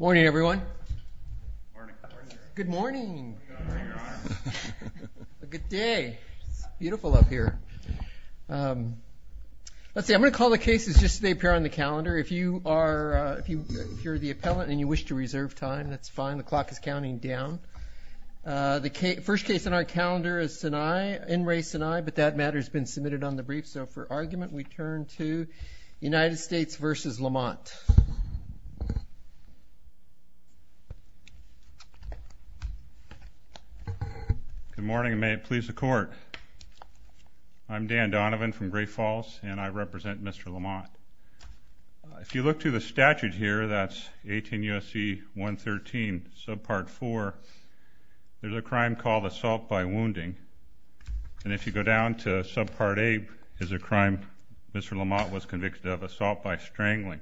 morning everyone good morning good day beautiful up here let's see I'm gonna call the cases just they appear on the calendar if you are if you hear the appellant and you wish to reserve time that's fine the clock is counting down the first case on our calendar is tonight in race and I but that matter has been submitted on the brief so for argument we turn to United States versus Lamont good morning may it please the court I'm Dan Donovan from Great Falls and I represent mr. Lamont if you look to the statute here that's 18 USC 113 subpart 4 there's a crime called assault by wounding and if you go down to sub 8 is a crime mr. Lamont was convicted of assault by strangling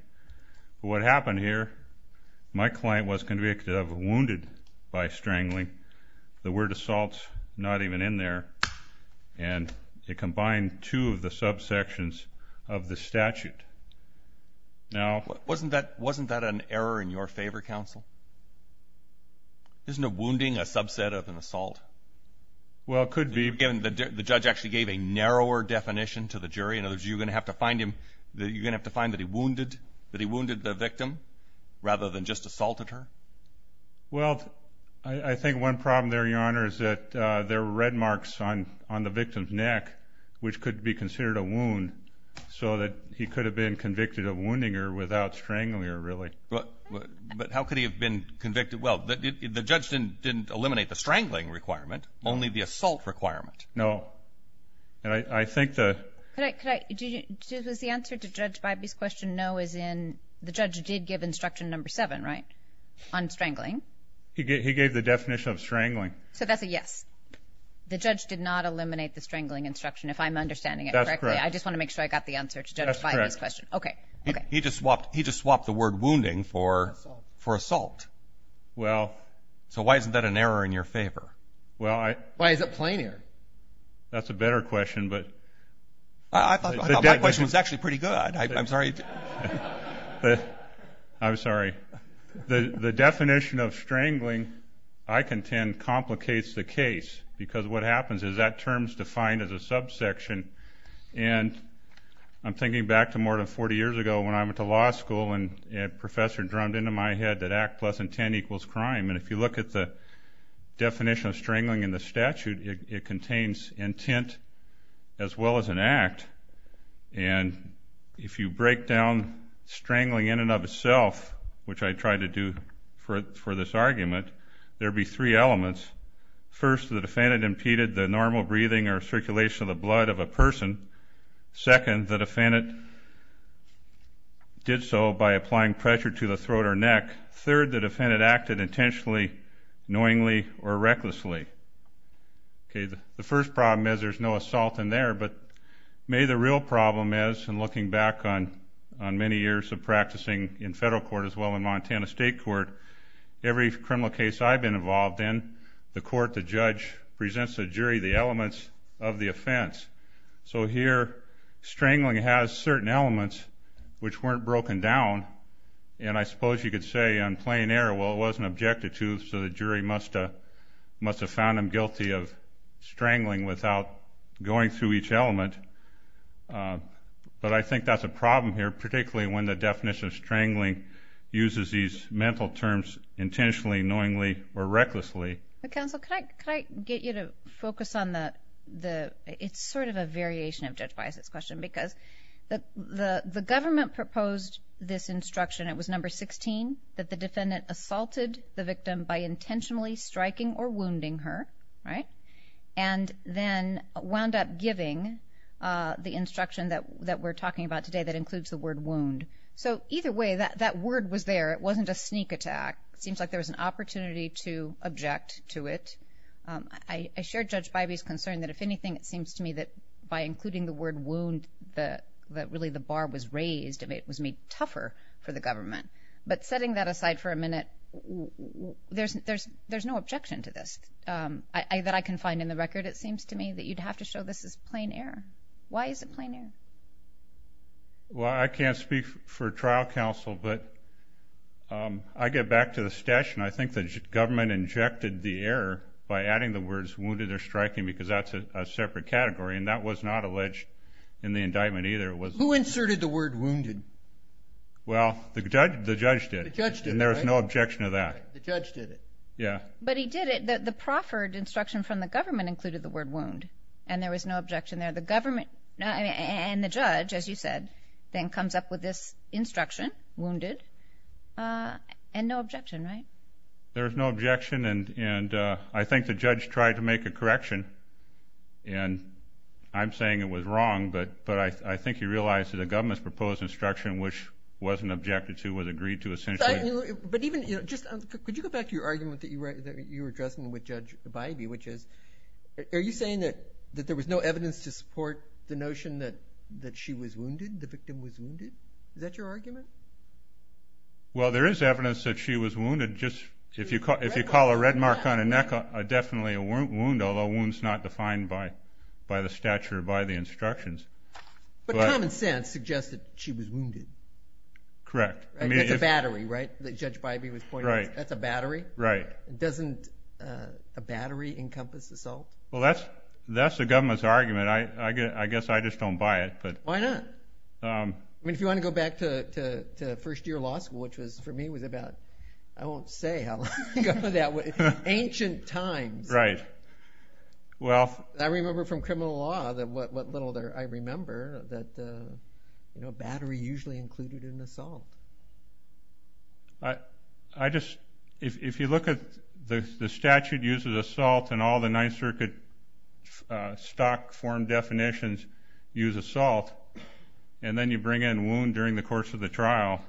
what happened here my client was convicted of wounded by strangling the word assaults not even in there and it combined two of the subsections of the statute now wasn't that wasn't that an error in your favor counsel there's no wounding a subset of assault well could be given the judge actually gave a narrower definition to the jury in others you're gonna have to find him that you're gonna have to find that he wounded that he wounded the victim rather than just assaulted her well I think one problem there your honor is that there were red marks on on the victim's neck which could be considered a wound so that he could have been convicted of wounding her without strangling her really but but how could you've been convicted well the judge didn't didn't eliminate the strangling requirement only the assault requirement no and I think that was the answer to judge Biby's question no is in the judge did give instruction number seven right on strangling he gave the definition of strangling so that's a yes the judge did not eliminate the strangling instruction if I'm understanding it correctly I just want to make sure I got the answer to this question okay he just swapped he well so why isn't that an error in your favor well I why is it planar that's a better question but I thought it was actually pretty good I'm sorry but I'm sorry the the definition of strangling I contend complicates the case because what happens is that terms defined as a subsection and I'm thinking back to more than 40 years ago when I went to law school and professor drummed into my head that act lesson 10 equals crime and if you look at the definition of strangling in the statute it contains intent as well as an act and if you break down strangling in and of itself which I tried to do for this argument there be three elements first the defendant impeded the normal breathing or circulation of the blood of a person second the defendant did so by applying pressure to the throat or neck third the defendant acted intentionally knowingly or recklessly okay the first problem is there's no assault in there but may the real problem is and looking back on on many years of practicing in federal court as well in Montana State Court every criminal case I've been involved in the court the judge presents a jury the elements of the offense so here strangling has certain elements which weren't broken down and I suppose you could say on plain air well it wasn't objected to so the jury musta must have found him guilty of strangling without going through each element but I think that's a problem here particularly when the definition of strangling uses these mental terms intentionally knowingly or recklessly the council can the government proposed this instruction it was number 16 that the defendant assaulted the victim by intentionally striking or wounding her right and then wound up giving the instruction that that we're talking about today that includes the word wound so either way that that word was there it wasn't a sneak attack seems like there was an opportunity to object to it I shared judge by these concern that if anything it seems to me that by including the word wound the that really the bar was raised it was made tougher for the government but setting that aside for a minute there's there's there's no objection to this I that I can find in the record it seems to me that you'd have to show this is plain air why is it plain air well I can't speak for trial counsel but I get back to the station I think the government injected the air by striking because that's a separate category and that was not alleged in the indictment either it was who inserted the word wounded well the judge the judge did and there's no objection of that yeah but he did it that the proffered instruction from the government included the word wound and there was no objection there the government and the judge as you said then comes up with this instruction wounded and no objection right there's no objection and and I think the judge tried to make a correction and I'm saying it was wrong but but I think he realized that the government's proposed instruction which wasn't objected to was agreed to essentially but even you know just could you go back to your argument that you were addressing with judge the baby which is are you saying that that there was no evidence to support the notion that that she was wounded the victim was wounded is that your argument well there is evidence that she was wounded just if you caught if you call a red mark on a neck I definitely a wound although wounds not defined by by the stature by the instructions but common sense suggested she was wounded correct I mean it's a battery right the judge baby was right that's a battery right doesn't a battery encompass assault well that's that's the government's argument I guess I just don't buy it but why not I mean if you want to go back to first year law school which was for me was about I won't say how ancient times right well I remember from criminal law that what little there I remember that you know battery usually included in assault I I just if you look at the statute uses assault and all the nice circuit stock form definitions use assault and then you bring in wound during the course of the trial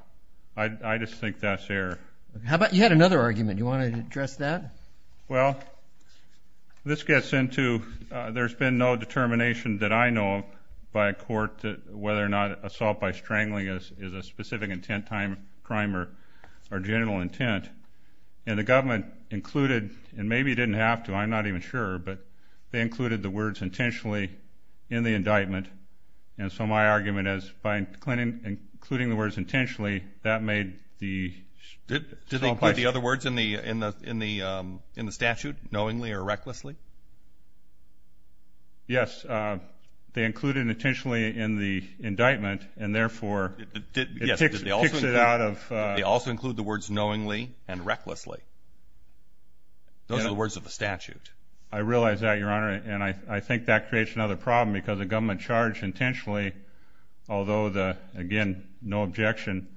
I just think that's air how about you had another argument you want to address that well this gets into there's been no determination that I know by a court whether or not assault by strangling us is a specific intent time crime or our intent and the government included and maybe didn't have to I'm not even sure but they included the words intentionally in the indictment and so my argument is by including the words intentionally that made the other words in the in the in the in the statute knowingly or recklessly yes they included intentionally in the indictment and therefore they also include the words knowingly and recklessly those are the words of the statute I realize that your honor and I think that creates another problem because the government charge intentionally although the again no objection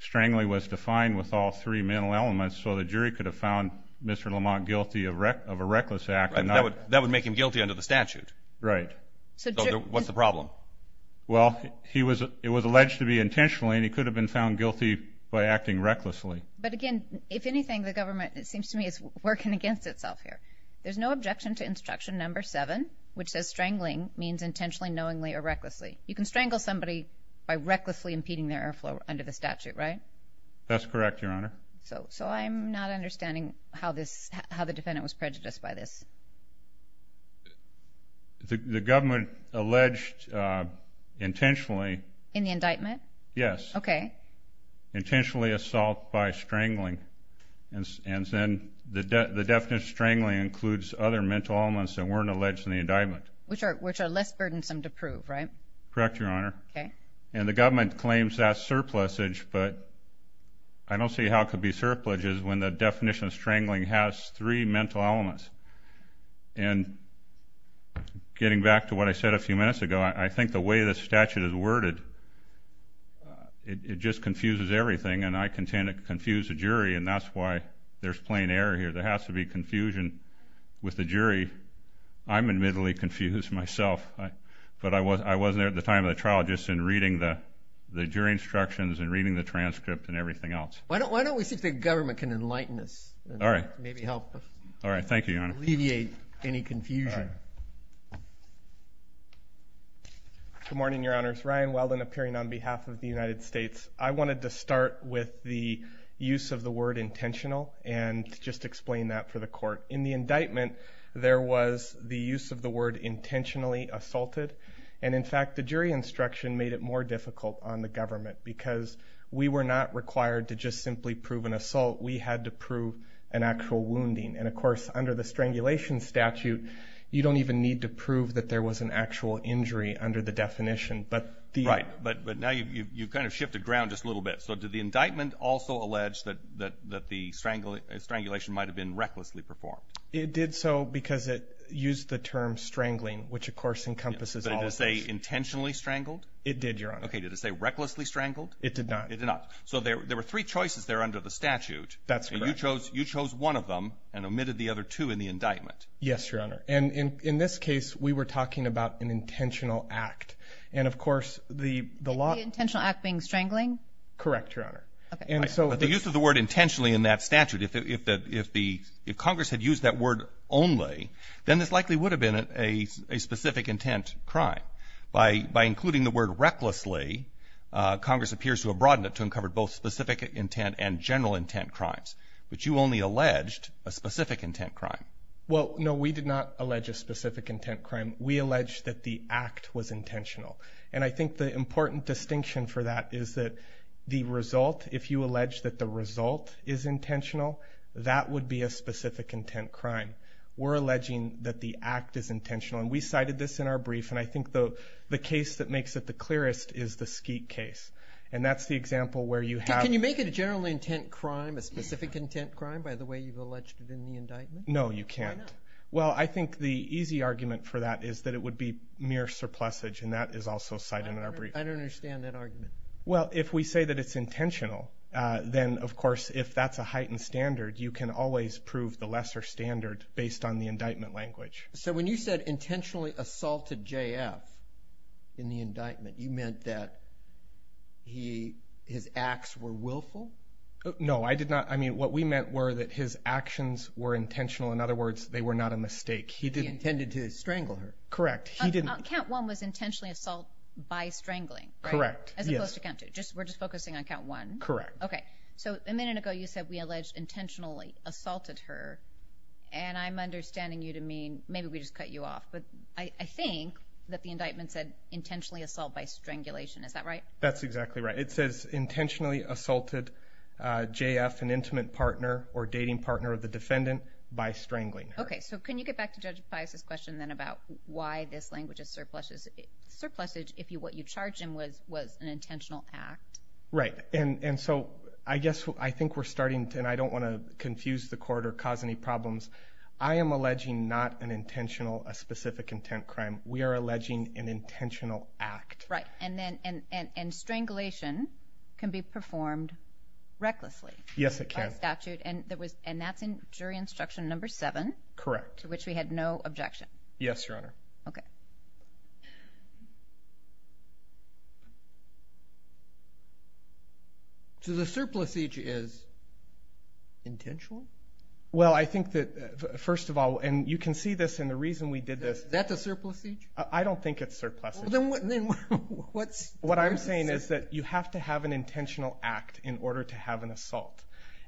strangling was defined with all three mental elements so the jury could have found mr. Lamont guilty of wreck of a reckless act that would that would make him guilty under the statute right so what's the problem well he was it was alleged to be intentionally and acting recklessly but again if anything the government it seems to me it's working against itself here there's no objection to instruction number seven which says strangling means intentionally knowingly or recklessly you can strangle somebody by recklessly impeding their airflow under the statute right that's correct your honor so so I'm not understanding how this how the defendant was prejudiced by this the government alleged intentionally in the assault by strangling and and then the definition strangling includes other mental elements that weren't alleged in the indictment which are which are less burdensome to prove right correct your honor okay and the government claims that surplus age but I don't see how it could be surpluses when the definition of strangling has three mental elements and getting back to what I said a few minutes ago I think the way this statute is worded it just confuses everything and I can tend to confuse a jury and that's why there's plain error here there has to be confusion with the jury I'm admittedly confused myself but I was I wasn't there at the time of the trial just in reading the the jury instructions and reading the transcript and everything else why don't why don't we see if the government can enlighten us all right maybe help all right thank you on alleviate any confusion good morning your honors Ryan Weldon appearing on use of the word intentional and just explain that for the court in the indictment there was the use of the word intentionally assaulted and in fact the jury instruction made it more difficult on the government because we were not required to just simply prove an assault we had to prove an actual wounding and of course under the strangulation statute you don't even need to prove that there was an actual injury under the definition but the right but but now you've kind of shifted ground just a little bit so did the indictment also allege that that that the strangling strangulation might have been recklessly performed it did so because it used the term strangling which of course encompasses I would say intentionally strangled it did your honor okay did it say recklessly strangled it did not it did not so there there were three choices there under the statute that's when you chose you chose one of them and omitted the other two in the indictment yes your honor and in in this case we were talking about an intentional act and of course the the intentional act being strangling correct your honor and so the use of the word intentionally in that statute if that if the if Congress had used that word only then this likely would have been a specific intent crime by by including the word recklessly Congress appears to have broadened it to uncover both specific intent and general intent crimes but you only alleged a specific intent crime well no we did not allege a specific intent crime we allege that the important distinction for that is that the result if you allege that the result is intentional that would be a specific intent crime we're alleging that the act is intentional and we cited this in our brief and I think the the case that makes it the clearest is the skeet case and that's the example where you have can you make it a general intent crime a specific intent crime by the way you've alleged it in the indictment no you can't well I think the easy argument for that is that it would be mere surplus age and that is also cited in well if we say that it's intentional then of course if that's a heightened standard you can always prove the lesser standard based on the indictment language so when you said intentionally assaulted JF in the indictment you meant that he his acts were willful no I did not I mean what we meant were that his actions were intentional in other words they were not a mistake he didn't tended to strangle her correct he didn't count one was intentionally assault by strangling correct as opposed to count to just we're just focusing on count one correct okay so a minute ago you said we alleged intentionally assaulted her and I'm understanding you to mean maybe we just cut you off but I think that the indictment said intentionally assault by strangulation is that right that's exactly right it says intentionally assaulted JF an intimate partner or dating partner of the defendant by strangling okay so can you get back to judge bias this question then about why this language is surpluses surpluses if you what you charge him was was an intentional act right and and so I guess I think we're starting to and I don't want to confuse the court or cause any problems I am alleging not an intentional a specific intent crime we are alleging an intentional act right and then and and and strangulation can be performed recklessly yes it can statute and there was and that's in jury instruction number seven correct which we had no objection yes your honor okay so the surplus each is intentional well I think that first of all and you can see this and the reason we did this that's a surplus each I don't think it's surplus what's what I'm saying is that you have to have an intentional act in order to have an assault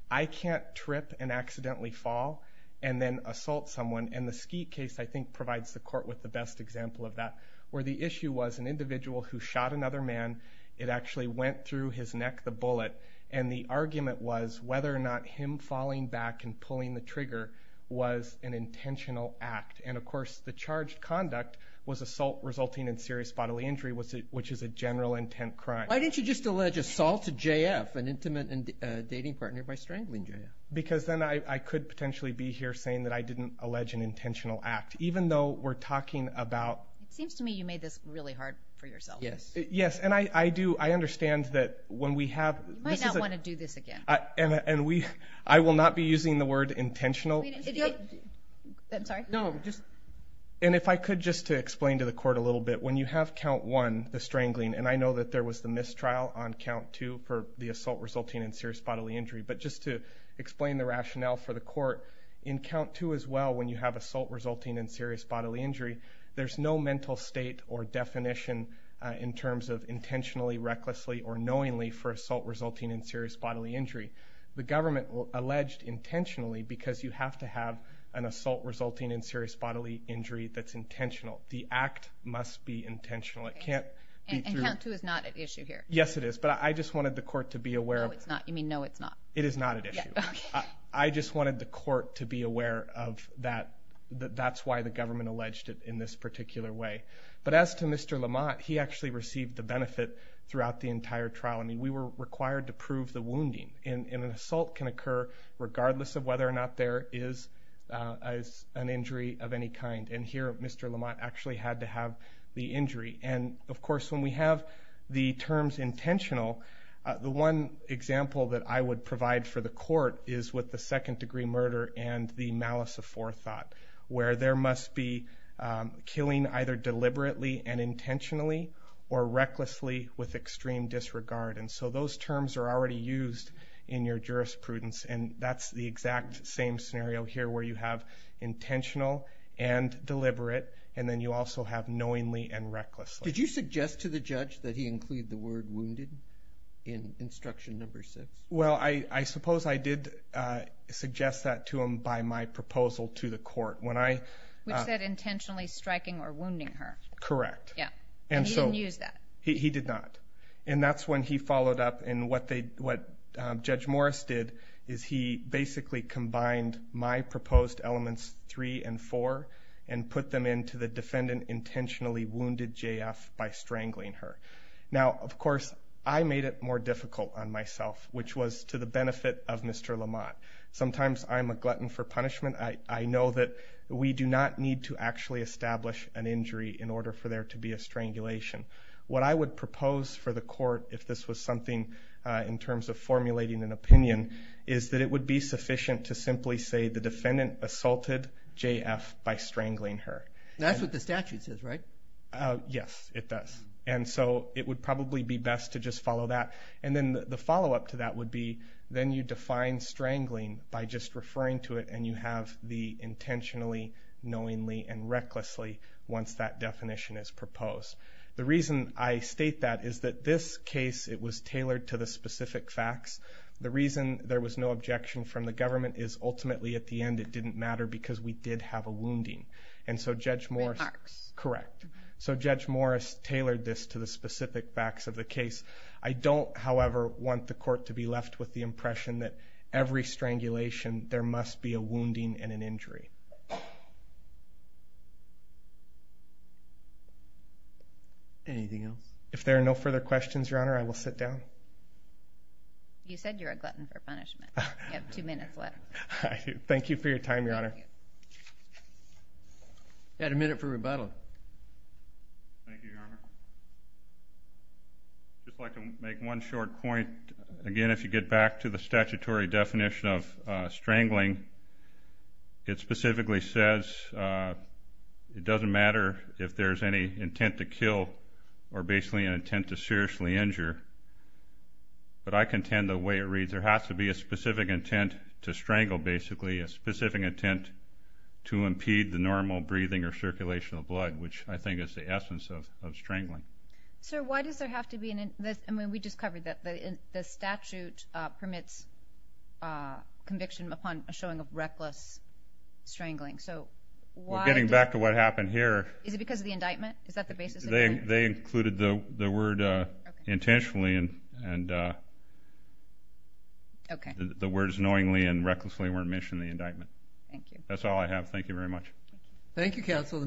I can't trip and accidentally fall and then assault someone and the skeet case I think provides the court with the best example of that where the issue was an individual who shot another man it actually went through his neck the bullet and the argument was whether or not him falling back and pulling the trigger was an intentional act and of course the charged conduct was assault resulting in serious bodily injury was it which is a general intent crime why didn't you just allege assault to JF an intimate and dating partner by strangling JF because then I could potentially be here saying that I didn't allege an intentional act even though we're talking about seems to me you made this really hard for yourself yes yes and I I do I understand that when we have to do this again and we I will not be using the word intentional and if I could just to explain to the court a little bit when you have count one the strangling and I know that there was the mistrial on count two for the assault resulting in serious bodily injury but just to explain the rationale for the court in count two as well when you have assault resulting in serious bodily injury there's no mental state or definition in terms of intentionally recklessly or knowingly for assault resulting in serious bodily injury the government will alleged intentionally because you have to have an assault resulting in serious bodily injury that's intentional the act must be intentional it can't and count two is not an issue here yes it is but I just wanted the court to be aware of it's not you mean no it's not it is not an issue I just wanted the court to be aware of that that's why the government alleged it in this particular way but as to mr. Lamont he actually received the benefit throughout the entire trial I mean we were required to prove the wounding in an assault can occur regardless of whether or not there is as an injury of any kind and here mr. Lamont actually had to have the injury and of course when we have the terms intentional the one example that I would provide for the court is with the second-degree murder and the malice of forethought where there must be killing either deliberately and intentionally or recklessly with extreme disregard and so those terms are already used in your jurisprudence and that's the exact same scenario here where you have intentional and deliberate and then you also have knowingly and recklessly did you suggest to the judge that he include the word in instruction number six well I I suppose I did suggest that to him by my proposal to the court when I said intentionally striking or wounding her correct yeah and so use that he did not and that's when he followed up and what they what judge Morris did is he basically combined my proposed elements three and four and put them into the defendant intentionally wounded JF by I made it more difficult on myself which was to the benefit of mr. Lamont sometimes I'm a glutton for punishment I I know that we do not need to actually establish an injury in order for there to be a strangulation what I would propose for the court if this was something in terms of formulating an opinion is that it would be sufficient to simply say the defendant assaulted JF by strangling her that's what the statute says right yes it does and so it would probably be best to just follow that and then the follow-up to that would be then you define strangling by just referring to it and you have the intentionally knowingly and recklessly once that definition is proposed the reason I state that is that this case it was tailored to the specific facts the reason there was no objection from the government is ultimately at the end it didn't matter because we did have a wounding and so judge Morris correct so the case I don't however want the court to be left with the impression that every strangulation there must be a wounding and an injury if there are no further questions your honor I will sit down you said you're a glutton for punishment I have two minutes left thank you for your time your honor had a just like to make one short point again if you get back to the statutory definition of strangling it specifically says it doesn't matter if there's any intent to kill or basically an intent to seriously injure but I contend the way it reads there has to be a specific intent to strangle basically a specific intent to impede the normal breathing or circulation of blood which I think is the essence of strangling so why does there have to be in this I mean we just covered that the statute permits conviction upon a showing of reckless strangling so we're getting back to what happened here is it because of the indictment is that the basis they they included the the word intentionally and and okay the words knowingly and recklessly weren't mentioned the indictment thank you that's all I have thank you very much thank you counsel